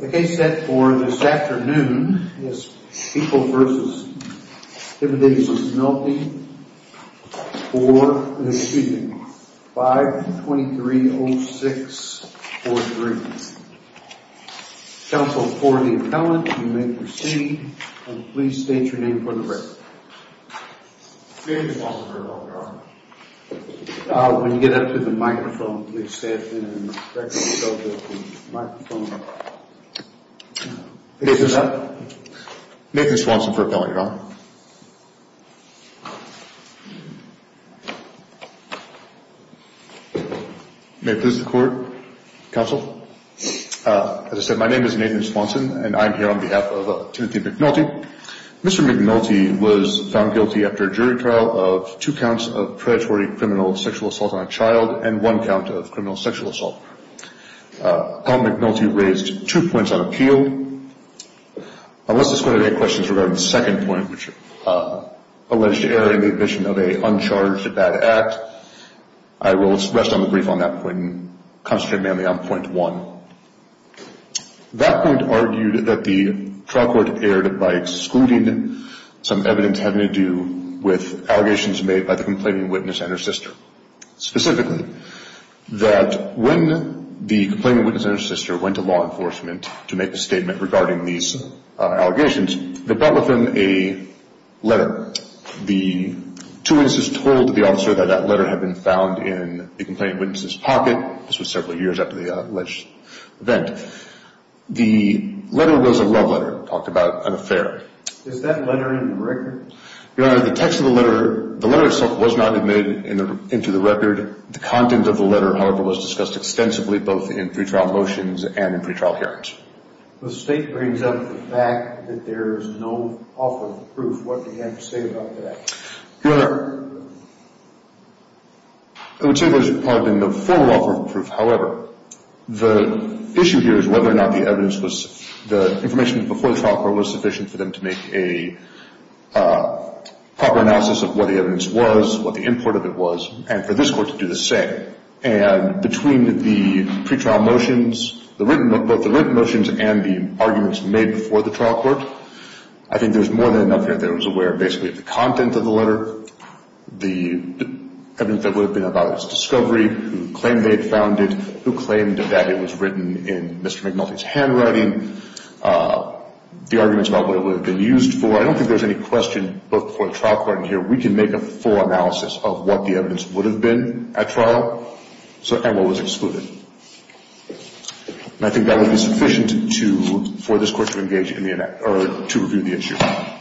The case set for this afternoon is People v. Himadeus v. McNulty for 5-2306-43. Counsel for the appellant, you may proceed, and please state your name for the record. My name is Nathan Swanson and I am here on behalf of Timothy McNulty. Mr. McNulty was found guilty after a jury trial of two counts of predatory criminal sexual assault on a child and one count of criminal sexual assault. Appellant McNulty raised two points on appeal. Unless this court had any questions regarding the second point, which alleged error in the admission of an uncharged bad act, I will rest on the brief on that point and concentrate mainly on point one. That point argued that the trial court erred by excluding some evidence having to do with allegations made by the complaining witness and her sister. Specifically, that when the complaining witness and her sister went to law enforcement to make a statement regarding these allegations, they brought with them a letter. The two witnesses told the officer that that letter had been found in the complaining witness's pocket. This was several years after the alleged event. The letter was a love letter. It talked about an affair. Is that letter in the record? Your Honor, the text of the letter, the letter itself was not admitted into the record. The content of the letter, however, was discussed extensively both in pretrial motions and in pretrial hearings. The state brings up the fact that there is no offer of proof. What do you have to say about that? Your Honor, I would say that as part of the formal offer of proof, however, the issue here is whether or not the evidence was the information before the trial court was sufficient for them to make a proper analysis of what the evidence was, what the import of it was, and for this court to do the same. And between the pretrial motions, both the written motions and the arguments made before the trial court, I think there's more than enough here that was aware of basically the content of the letter, the evidence that would have been about its discovery, who claimed they had found it, who claimed that it was written in Mr. McNulty's handwriting, the arguments about what it would have been used for. I don't think there's any question, both before the trial court and here, we can make a full analysis of what the evidence would have been at trial and what was excluded. And I think that would be sufficient for this court to engage in or to review the issue. I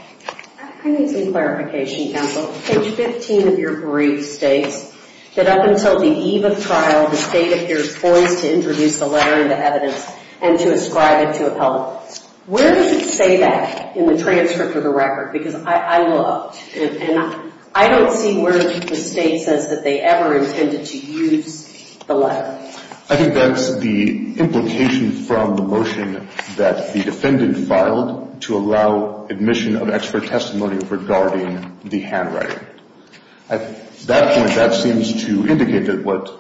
need some clarification, counsel. Page 15 of your brief states that up until the eve of trial, the State appears poised to introduce the letter into evidence and to ascribe it to appellants. Where does it say that in the transcript or the record? Because I looked, and I don't see where the State says that they ever intended to use the letter. I think that's the implication from the motion that the defendant filed to allow admission of expert testimony regarding the handwriting. At that point, that seems to indicate that what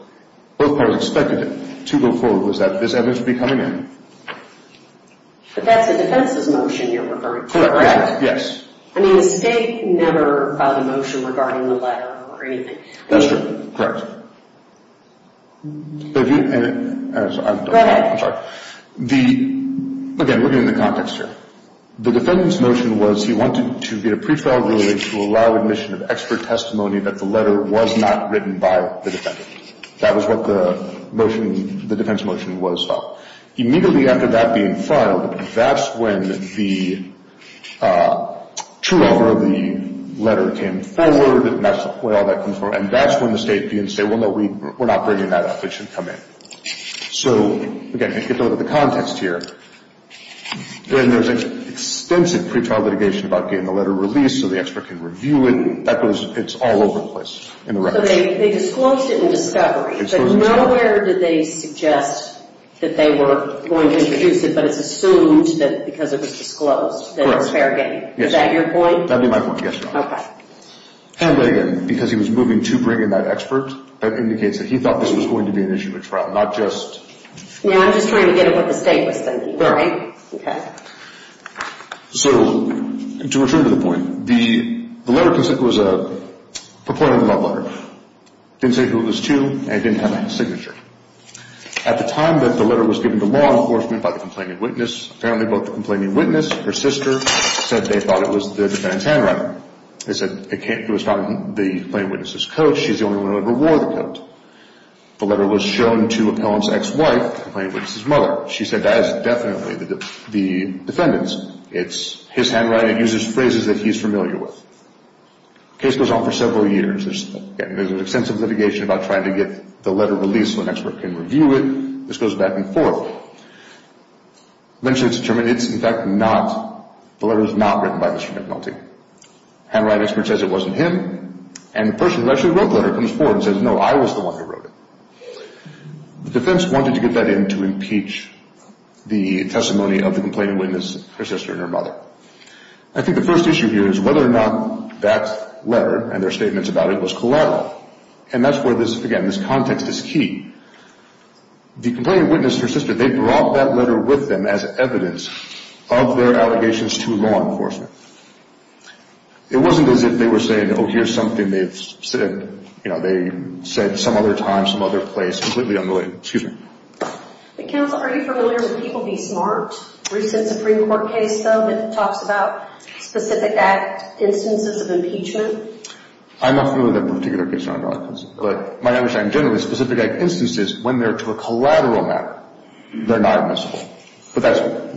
both parties expected to go forward was that this evidence would be coming in. But that's a defense's motion you're referring to, correct? Correct, yes. I mean, the State never filed a motion regarding the letter or anything. That's true. Correct. I'm sorry. Again, we're getting into context here. The defendant's motion was he wanted to get a pre-trial ruling to allow admission of expert testimony that the letter was not written by the defendant. That was what the defense motion was about. Immediately after that being filed, that's when the true author of the letter came forward, and that's the way all that comes forward. And that's when the State can say, well, no, we're not bringing that up. It should come in. So, again, to get into the context here, when there's an extensive pre-trial litigation about getting the letter released so the expert can review it, it's all over the place in the record. So they disclosed it in discovery. But nowhere did they suggest that they were going to introduce it, but it's assumed that because it was disclosed that it was fair game. Correct. Is that your point? That would be my point, yes, Your Honor. Okay. And, again, because he was moving to bring in that expert, that indicates that he thought this was going to be an issue at trial, not just... No, I'm just trying to get at what the State was thinking. All right. Okay. So, to return to the point, the letter was a plaintiff love letter. It didn't say who it was to, and it didn't have a signature. At the time that the letter was given to law enforcement by the complaining witness, apparently both the complaining witness and her sister said they thought it was the defendant's handwriting. They said it was found in the complaining witness's coat. She's the only one who ever wore the coat. The letter was shown to an appellant's ex-wife, the complaining witness's mother. She said that is definitely the defendant's. It's his handwriting. It uses phrases that he's familiar with. The case goes on for several years. There's an extensive litigation about trying to get the letter released so an expert can review it. This goes back and forth. Eventually it's determined it's, in fact, not, the letter is not written by Mr. McNulty. A handwriting expert says it wasn't him, and the person who actually wrote the letter comes forward and says, no, I was the one who wrote it. The defense wanted to get that in to impeach the testimony of the complaining witness, her sister and her mother. I think the first issue here is whether or not that letter and their statements about it was collateral, and that's where this, again, this context is key. The complaining witness, her sister, they brought that letter with them as evidence of their allegations to law enforcement. It wasn't as if they were saying, oh, here's something they've said, you know, they said some other time, some other place, completely unrelated. Excuse me. Counsel, are you familiar with People Be Smart, a recent Supreme Court case, though, that talks about specific instances of impeachment? I'm not familiar with that particular case, Your Honor, but my understanding is generally specific instances when they're to a collateral matter, they're not admissible.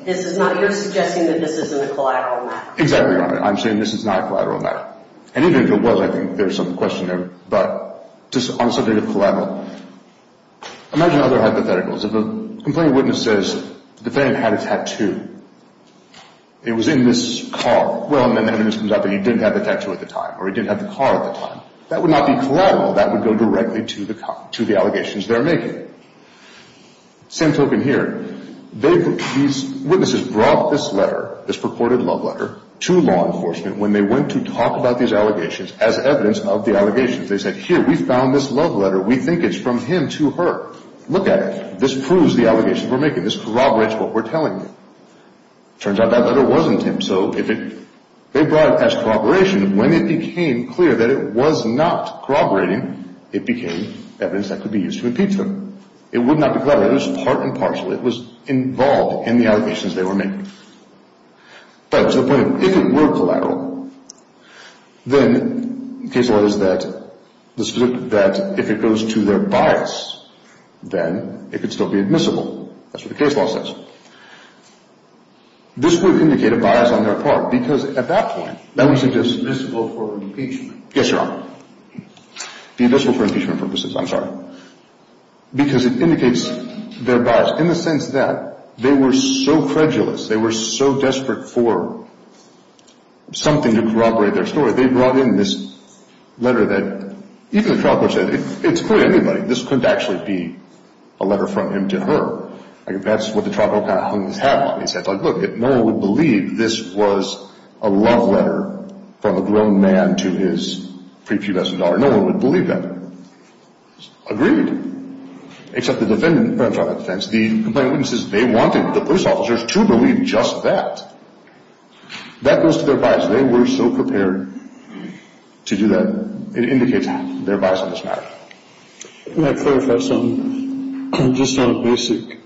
This is not, you're suggesting that this isn't a collateral matter. Exactly, Your Honor. I'm saying this is not a collateral matter. And even if it was, I think there's some question there, but just on the subject of collateral, imagine other hypotheticals. If a complaining witness says the defendant had a tattoo, it was in this car. Well, and then the evidence comes out that he didn't have the tattoo at the time, or he didn't have the car at the time. That would not be collateral. That would go directly to the allegations they're making. Same token here. These witnesses brought this letter, this purported love letter, to law enforcement when they went to talk about these allegations as evidence of the allegations. They said, here, we found this love letter. We think it's from him to her. Look at it. This proves the allegations we're making. This corroborates what we're telling you. Turns out that letter wasn't him. So they brought it as corroboration. When it became clear that it was not corroborating, it became evidence that could be used to impeach them. It would not be collateral. It was part and parcel. It was involved in the allegations they were making. But to the point, if it were collateral, then the case law is that if it goes to their bias, then it could still be admissible. That's what the case law says. This would indicate a bias on their part because at that point, that would suggest It's admissible for impeachment. Yes, Your Honor. It's admissible for impeachment purposes. I'm sorry. Because it indicates their bias in the sense that they were so credulous, they were so desperate for something to corroborate their story, they brought in this letter that even the trial court said it's clearly anybody. This couldn't actually be a letter from him to her. That's what the trial court kind of hung its hat on. It said, look, no one would believe this was a love letter from a grown man to his pre-pubescent daughter. No one would believe that. Agreed. Except the defendant. The complainant says they wanted the police officers to believe just that. That goes to their bias. They were so prepared to do that. It indicates their bias in this matter. May I clarify something? Just on a basic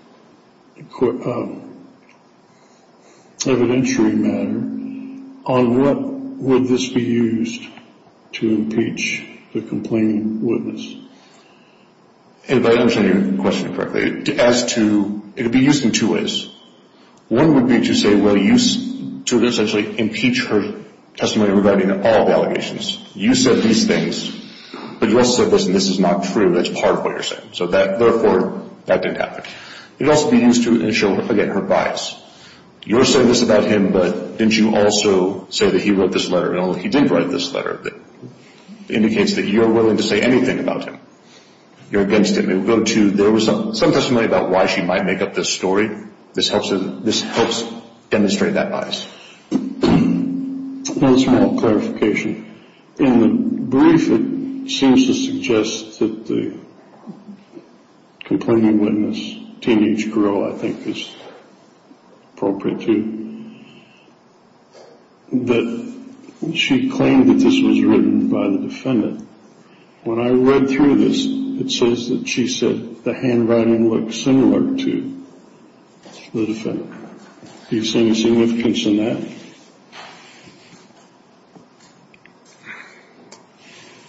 evidentiary matter, on what would this be used to impeach the complaining witness? If I understand your question correctly, as to, it would be used in two ways. One would be to say, well, use, to essentially impeach her testimony regarding all the allegations. You said these things, but you also said, listen, this is not true. That's part of what you're saying. So therefore, that didn't happen. It would also be used to show, again, her bias. You're saying this about him, but didn't you also say that he wrote this letter? Well, he did write this letter. It indicates that you're willing to say anything about him. You're against him. It would go to, there was some testimony about why she might make up this story. This helps demonstrate that bias. One small clarification. In the brief, it seems to suggest that the complaining witness, teenage girl, I think is appropriate too, that she claimed that this was written by the defendant. When I read through this, it says that she said the handwriting looked similar to the defendant. Do you see any significance in that?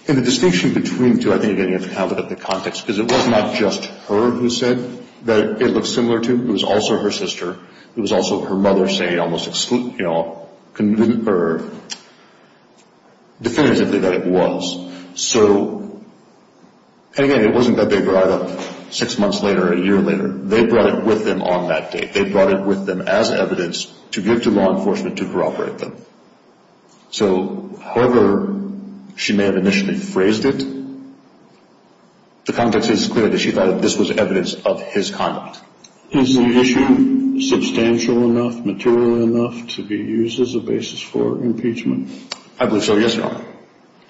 In the distinction between the two, I think you have to have it in the context, because it was not just her who said that it looked similar to. It was also her sister. It was also her mother saying almost definitively that it was. So, again, it wasn't that they brought it up six months later or a year later. They brought it with them on that date. They brought it with them as evidence to give to law enforcement to corroborate them. So, however she may have initially phrased it, the context is clear that she thought that this was evidence of his conduct. Is the issue substantial enough, material enough, to be used as a basis for impeachment? I believe so, yes, Your Honor,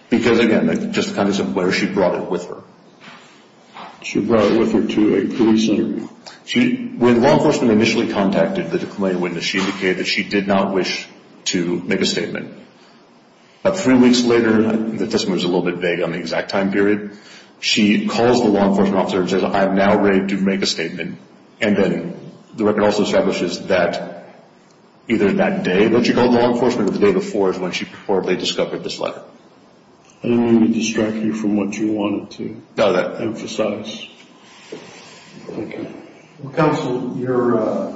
because, again, just the context of where she brought it with her. She brought it with her to a police interview. When law enforcement initially contacted the declaring witness, she indicated that she did not wish to make a statement. About three weeks later, the testimony was a little bit vague on the exact time period, she calls the law enforcement officer and says, I am now ready to make a statement. And then the record also establishes that either that day, but she called law enforcement the day before is when she reportedly discovered this letter. I didn't mean to distract you from what you wanted to emphasize. Thank you. Counsel, your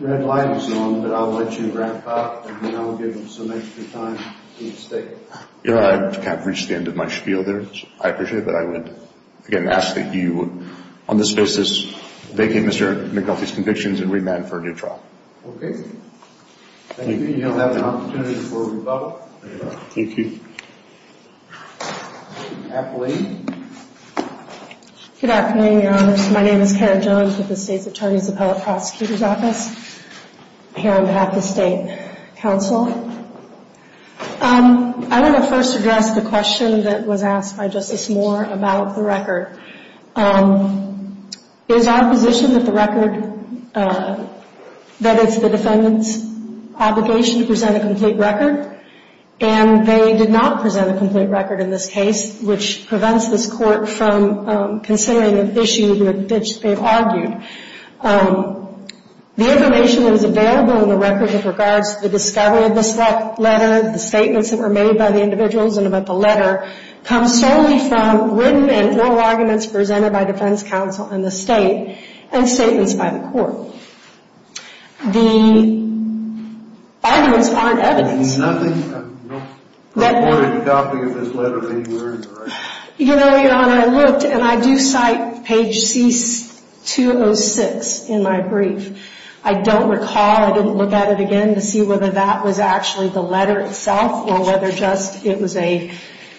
red light is on, but I'll let you wrap up, and then I'll give him some extra time to state. Your Honor, I've kind of reached the end of my spiel there. I appreciate it, but I would, again, ask that you, on this basis, vacate Mr. McAuliffe's convictions and remand for a new trial. Okay. Thank you. Thank you. You'll have an opportunity before we vote. Thank you. Appellee. Good afternoon, Your Honor. My name is Karen Jones with the State's Attorney's Appellate Prosecutor's Office. I'm here on behalf of the State Council. I want to first address the question that was asked by Justice Moore about the record. It is our position that the record, that it's the defendant's obligation to present a complete record, and they did not present a complete record in this case, which prevents this Court from considering an issue that they've argued. The information that is available in the record with regards to the discovery of this letter, the statements that were made by the individuals and about the letter, comes solely from written and oral arguments presented by defense counsel and the State and statements by the Court. The arguments aren't evidence. There's nothing reported in the topic of this letter anywhere in the record? You know, Your Honor, I looked, and I do cite page C-206 in my brief. I don't recall. I didn't look at it again to see whether that was actually the letter itself or whether just it was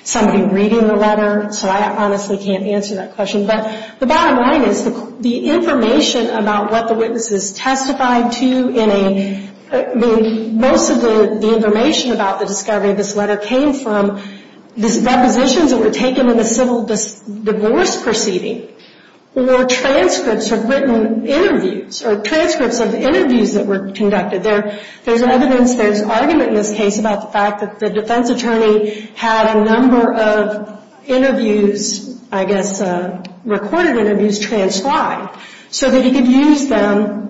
somebody reading the letter, so I honestly can't answer that question. But the bottom line is the information about what the witnesses testified to in a, I mean, most of the information about the discovery of this letter came from the depositions that were taken in the civil divorce proceeding or transcripts of written interviews or transcripts of interviews that were conducted. There's evidence, there's argument in this case about the fact that the defense attorney had a number of interviews, I guess recorded interviews, transcribed so that he could use them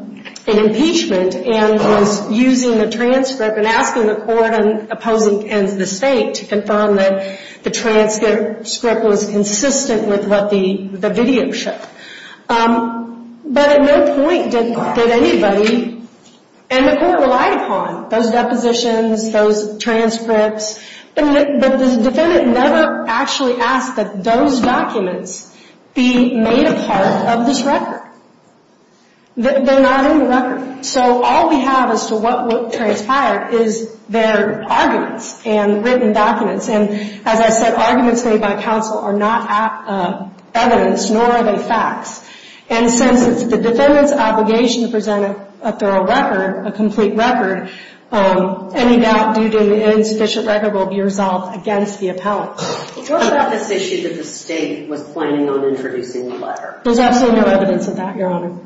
in impeachment and was using the transcript and asking the Court and the State to confirm that the transcript was consistent with what the video showed. But at no point did anybody and the Court relied upon those depositions, those transcripts, but the defendant never actually asked that those documents be made a part of this record. They're not in the record. So all we have as to what transpired is their arguments and written documents. And as I said, arguments made by counsel are not evidence, nor are they facts. And since it's the defendant's obligation to present a thorough record, a complete record, any doubt due to an insufficient record will be resolved against the appellant. What about this issue that the State was planning on introducing in the letter? There's absolutely no evidence of that, Your Honor.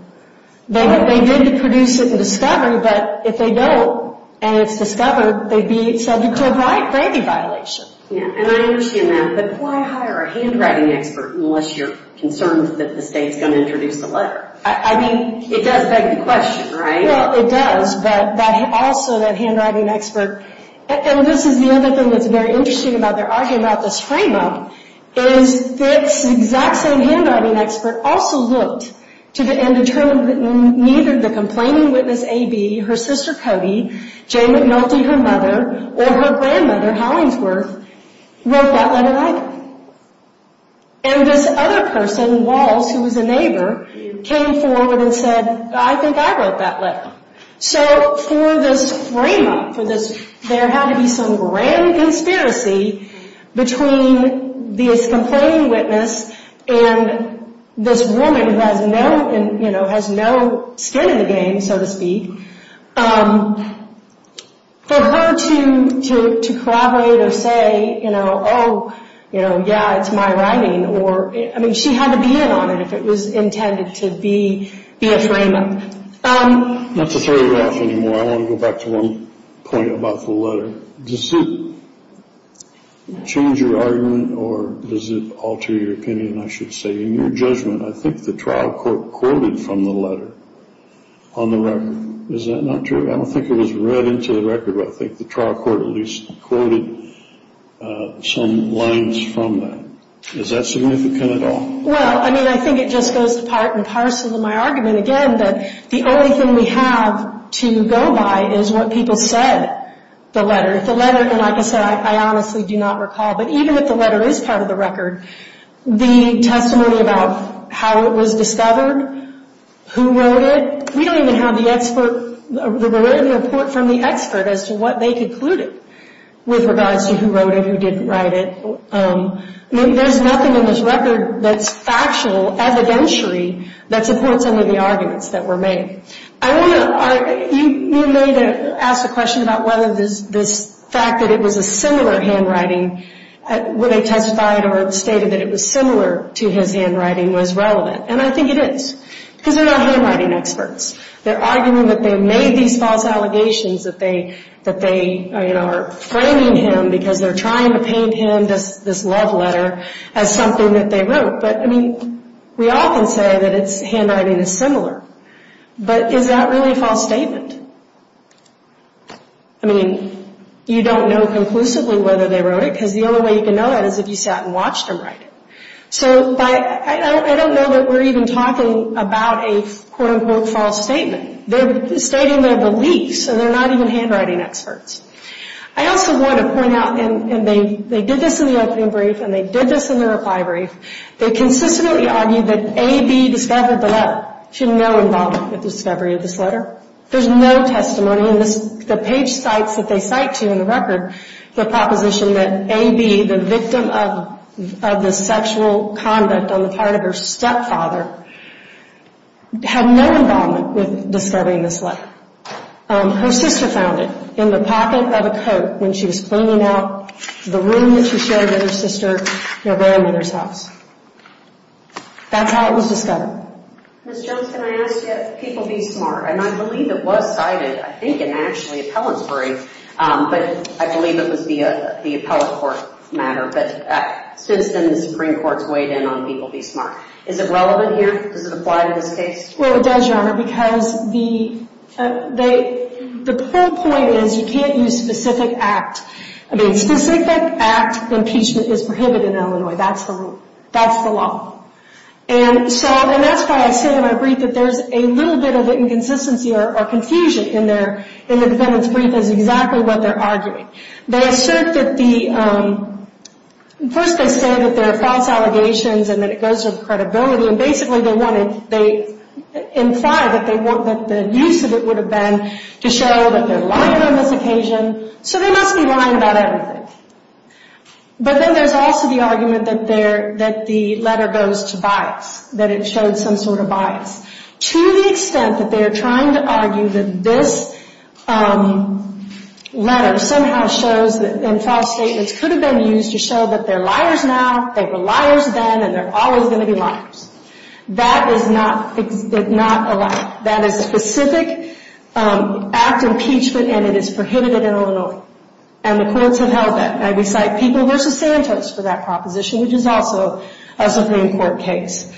They did produce it and discover, but if they don't and it's discovered, they'd be subject to a grantee violation. And I understand that, but why hire a handwriting expert unless you're concerned that the State's going to introduce the letter? I mean, it does beg the question, right? Well, it does, but also that handwriting expert, and this is the other thing that's very interesting about their argument about this frame-up, is this exact same handwriting expert also looked and determined that neither the complaining witness, A.B., her sister, Cody, Jane McNulty, her mother, or her grandmother, Hollingsworth, wrote that letter either. And this other person, Walz, who was a neighbor, came forward and said, I think I wrote that letter. So for this frame-up, for this, there had to be some grand conspiracy between this complaining witness and this woman who has no, you know, has no skin in the game, so to speak, for her to collaborate or say, you know, oh, you know, yeah, it's my writing or, I mean, she had to be in on it if it was intended to be a frame-up. Not to throw you off anymore, I want to go back to one point about the letter. Does it change your argument or does it alter your opinion, I should say? In your judgment, I think the trial court quoted from the letter on the record. Is that not true? I don't think it was read into the record, but I think the trial court at least quoted some lines from that. Is that significant at all? Well, I mean, I think it just goes to part and parcel of my argument, again, that the only thing we have to go by is what people said the letter. The letter, and like I said, I honestly do not recall, but even if the letter is part of the record, the testimony about how it was discovered, who wrote it, we don't even have the expert, the written report from the expert as to what they concluded with regards to who wrote it, who didn't write it. There's nothing in this record that's factual, evidentiary, that supports any of the arguments that were made. You may have asked a question about whether this fact that it was a similar handwriting, where they testified or stated that it was similar to his handwriting, was relevant. And I think it is, because they're not handwriting experts. They're arguing that they made these false allegations that they are framing him because they're trying to paint him, this love letter, as something that they wrote. But, I mean, we often say that handwriting is similar. But is that really a false statement? I mean, you don't know conclusively whether they wrote it, because the only way you can know that is if you sat and watched them write it. So I don't know that we're even talking about a quote-unquote false statement. They're stating their beliefs, and they're not even handwriting experts. I also want to point out, and they did this in the opening brief, and they did this in the reply brief, they consistently argued that A.B. discovered the letter. She had no involvement with the discovery of this letter. There's no testimony in this. The page sites that they cite to in the record, the proposition that A.B., the victim of the sexual conduct on the part of her stepfather, had no involvement with discovering this letter. Her sister found it in the pocket of a coat when she was cleaning out the room that she shared with her sister, her grandmother's house. That's how it was discovered. Ms. Jones, can I ask you if People Be Smart, and I believe it was cited, I think, in actually Appellantsbury, but I believe it was the appellate court matter, but since then the Supreme Court's weighed in on People Be Smart. Is it relevant here? Does it apply to this case? Well, it does, Your Honor, because the whole point is you can't use specific act. I mean, specific act impeachment is prohibited in Illinois. That's the law. And that's why I say in my brief that there's a little bit of inconsistency or confusion in the defendants' brief is exactly what they're arguing. They assert that the—first they say that there are false allegations and that it goes with credibility, and basically they imply that the use of it would have been to show that they're lying on this occasion, so they must be lying about everything. But then there's also the argument that the letter goes to bias, that it showed some sort of bias, to the extent that they're trying to argue that this letter somehow shows that false statements could have been used to show that they're liars now, they were liars then, and they're always going to be liars. That is not allowed. That is specific act impeachment, and it is prohibited in Illinois. And the courts have held that. And I recite People v. Santos for that proposition, which is also a Supreme Court case. Does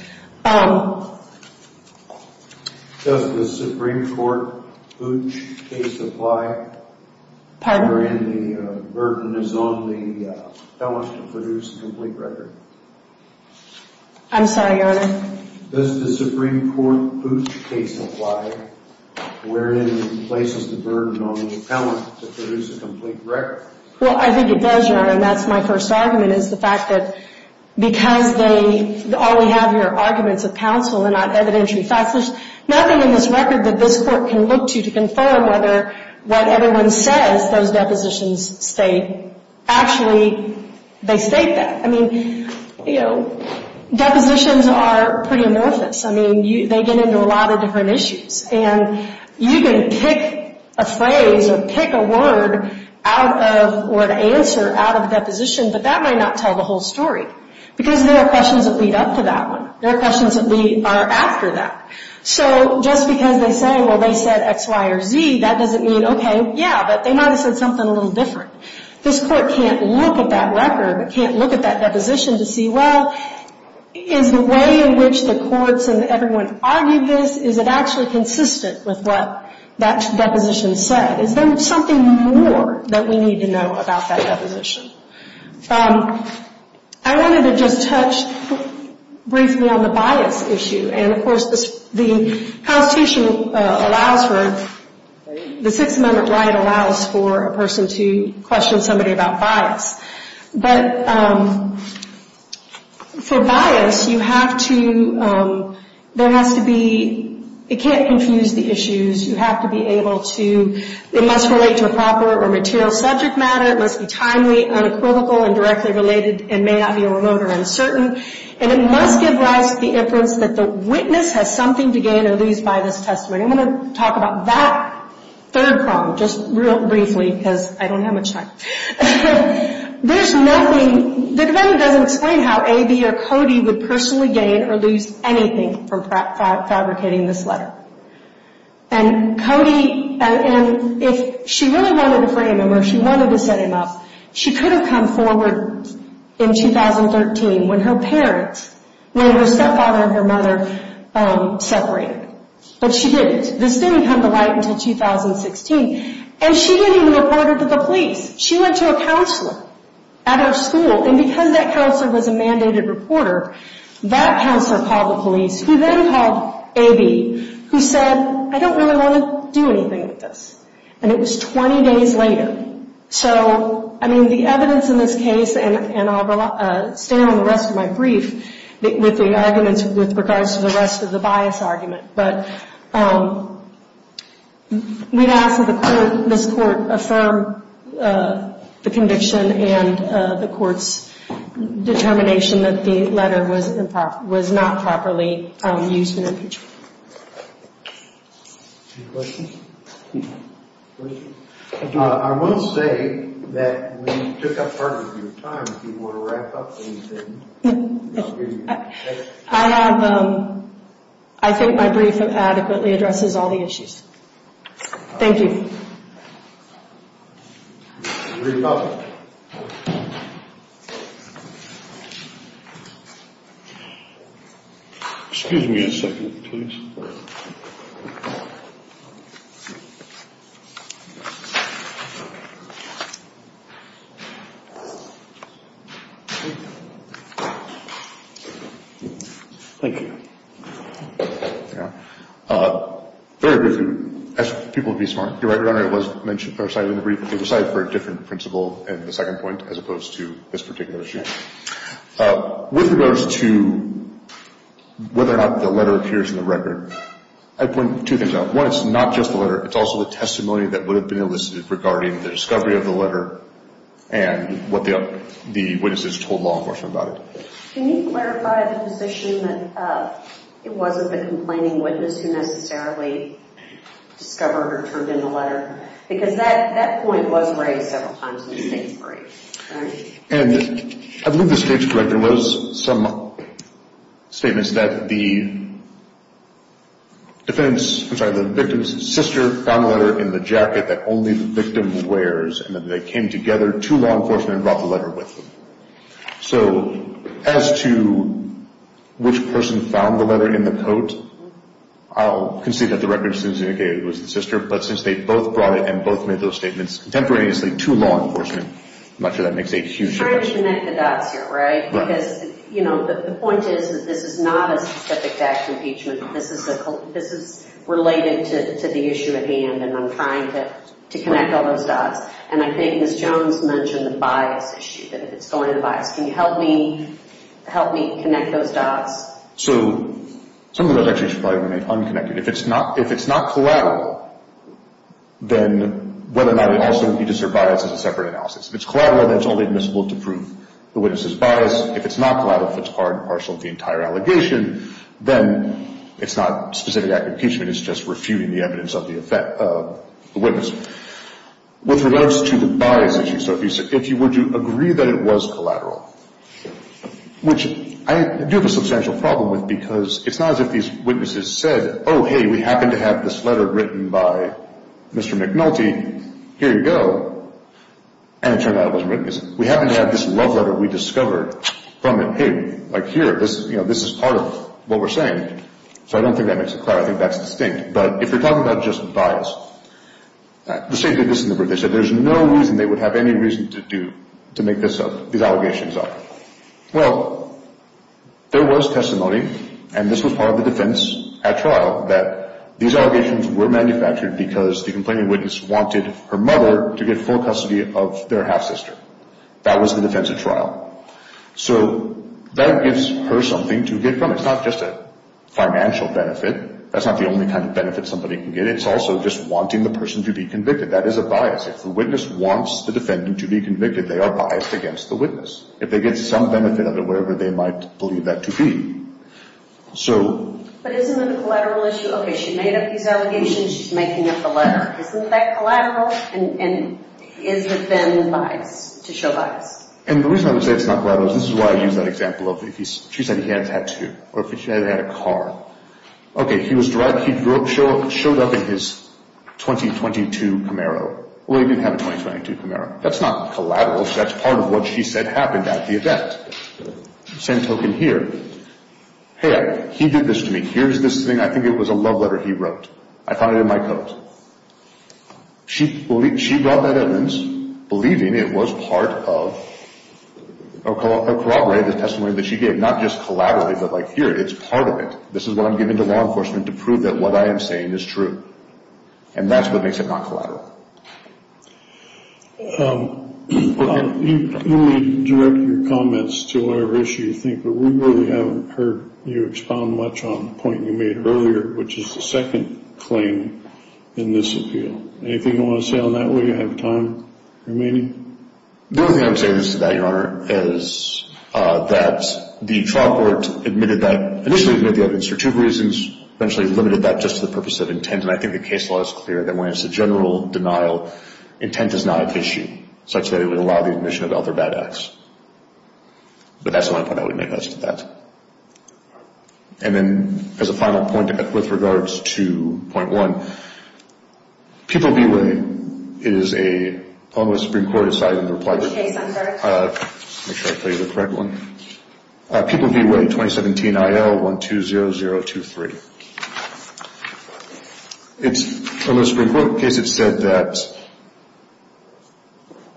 the Supreme Court Pooch case apply wherein the burden is on the felon to produce a complete record? I'm sorry, Your Honor. Does the Supreme Court Pooch case apply wherein it places the burden on the felon to produce a complete record? Well, I think it does, Your Honor, and that's my first argument, is the fact that because all we have here are arguments of counsel and not evidentiary facts, there's nothing in this record that this Court can look to to confirm whether what everyone says those depositions state. Actually, they state that. I mean, you know, depositions are pretty amorphous. I mean, they get into a lot of different issues. And you can pick a phrase or pick a word out of, or an answer out of a deposition, but that might not tell the whole story because there are questions that lead up to that one. There are questions that are after that. So just because they say, well, they said X, Y, or Z, that doesn't mean, okay, yeah, but they might have said something a little different. This Court can't look at that record, can't look at that deposition to see, well, is the way in which the courts and everyone argued this, is it actually consistent with what that deposition said? Is there something more that we need to know about that deposition? I wanted to just touch briefly on the bias issue. And, of course, the Constitution allows for, the Sixth Amendment right allows for a person to question somebody about bias. But for bias, you have to, there has to be, it can't confuse the issues. You have to be able to, it must relate to a proper or material subject matter. It must be timely, unequivocal, and directly related, and may not be remote or uncertain. And it must give rise to the inference that the witness has something to gain or lose by this testimony. I'm going to talk about that third problem just real briefly because I don't have much time. There's nothing, the defendant doesn't explain how A, B, or Cody would personally gain or lose anything from fabricating this letter. And Cody, and if she really wanted to frame him or she wanted to set him up, she could have come forward in 2013 when her parents, when her stepfather and her mother separated. But she didn't. This didn't come to light until 2016. And she didn't even report it to the police. She went to a counselor at her school. And because that counselor was a mandated reporter, that counselor called the police, who then called A, B, who said, I don't really want to do anything with this. And it was 20 days later. So, I mean, the evidence in this case, and I'll stay on the rest of my brief with the arguments with regards to the rest of the bias argument. But we'd ask that this court affirm the conviction and the court's determination that the letter was not properly used in impeachment. Any questions? I want to say that we took up part of your time. If you want to wrap up, please do. I have, I think my brief adequately addresses all the issues. Thank you. Excuse me a second, please. Thank you. Very briefly, ask people to be smart. Your Honor, it was cited in the brief, but it was cited for a different principle in the second point as opposed to this particular issue. With regards to whether or not the letter appears in the record, I'd point two things out. One, it's not just the letter. It's also the testimony that would have been elicited regarding the discovery of the letter and what the witnesses told law enforcement about it. Can you clarify the position that it wasn't the complaining witness who necessarily discovered or turned in the letter? Because that point was raised several times in the second brief, right? And I believe the stage director was some statements that the defense, I'm sorry, the victim's sister found the letter in the jacket that only the victim wears, and that they came together to law enforcement and brought the letter with them. So as to which person found the letter in the coat, I'll concede that the record assumes it was the sister, but since they both brought it and both made those statements contemporaneously to law enforcement, I'm not sure that makes a huge difference. I'm trying to connect the dots here, right? Because, you know, the point is that this is not a specific act of impeachment. This is related to the issue at hand, and I'm trying to connect all those dots. And I think Ms. Jones mentioned the bias issue, that if it's going to bias. Can you help me connect those dots? So some of those actually should probably remain unconnected. If it's not collateral, then whether or not it also would be to serve bias is a separate analysis. If it's collateral, then it's only admissible to prove the witness's bias. If it's not collateral, if it's part and parcel of the entire allegation, then it's not specific act of impeachment. It's just refuting the evidence of the witness. With regards to the bias issue, so if you were to agree that it was collateral, which I do have a substantial problem with because it's not as if these witnesses said, oh, hey, we happen to have this letter written by Mr. McNulty. Here you go. And it turned out it wasn't written. We happen to have this love letter we discovered from him. Like, here, this is part of what we're saying. So I don't think that makes it clear. I think that's distinct. But if you're talking about just bias, the state did this in the brief. They said there's no reason they would have any reason to make these allegations up. Well, there was testimony, and this was part of the defense at trial, that these allegations were manufactured because the complaining witness wanted her mother to get full custody of their half-sister. That was the defense at trial. So that gives her something to get from it. It's not just a financial benefit. That's not the only kind of benefit somebody can get. It's also just wanting the person to be convicted. That is a bias. If the witness wants the defendant to be convicted, they are biased against the witness. If they get some benefit out of it, whatever they might believe that to be. But isn't it a collateral issue? Okay, she made up these allegations. She's making up the letter. Isn't that collateral? And is it then biased, to show bias? And the reason I would say it's not collateral is this is why I use that example of if she said he had a tattoo or if she said he had a car. Okay, he was driving. He showed up in his 2022 Camaro. Well, he didn't have a 2022 Camaro. That's not collateral. That's part of what she said happened at the event. Same token here. Hey, he did this to me. Here's this thing. I think it was a love letter he wrote. I found it in my coat. She brought that evidence, believing it was part of a corroborated testimony that she gave, not just collaterally, but like here, it's part of it. This is what I'm giving to law enforcement to prove that what I am saying is true. And that's what makes it not collateral. You can direct your comments to whatever issue you think, but we really haven't heard you expound much on the point you made earlier, which is the second claim in this appeal. Anything you want to say on that? Will you have time remaining? The only thing I would say that, Your Honor, is that the trial court admitted that, initially admitted the evidence for two reasons, eventually limited that just to the purpose of intent, and I think the case law is clear that when it's a general denial, intent is not an issue such that it would allow the admission of other bad acts. But that's the only point I would make as to that. And then as a final point with regards to point one, People V. Way is a – I'll let the Supreme Court decide on the reply to it. Make sure I tell you the correct one. People V. Way, 2017 IL-120023. It's a Supreme Court case that said that –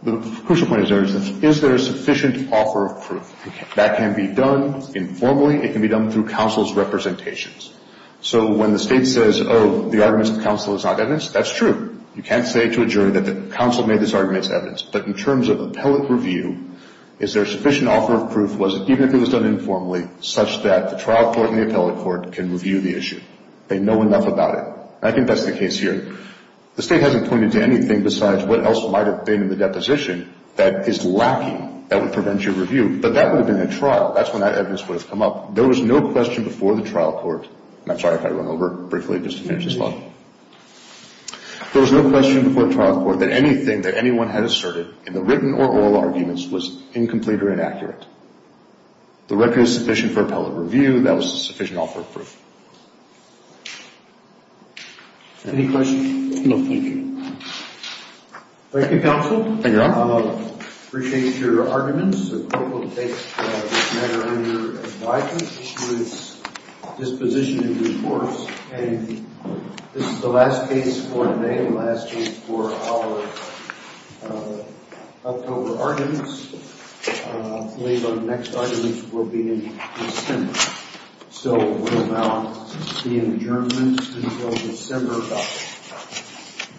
the crucial point is there is sufficient offer of proof. That can be done informally. It can be done through counsel's representations. So when the state says, oh, the arguments of counsel is not evidence, that's true. You can't say to a jury that the counsel made this argument as evidence. But in terms of appellate review, is there sufficient offer of proof, even if it was done informally, such that the trial court and the appellate court can review the issue. They know enough about it. I think that's the case here. The state hasn't pointed to anything besides what else might have been in the deposition that is lacking that would prevent your review. But that would have been a trial. That's when that evidence would have come up. There was no question before the trial court – and I'm sorry if I run over briefly just to finish this up. There was no question before the trial court that anything that anyone had asserted in the written or oral arguments was incomplete or inaccurate. The record is sufficient for appellate review. That was sufficient offer of proof. Any questions? No, thank you. Thank you, counsel. Thank you, Your Honor. I appreciate your arguments. The court will take this matter under advisement, which includes disposition in due course. And this is the last case for today, the last case for our October arguments. I believe our next arguments will be in December. So we'll now be in adjournment until December of that time.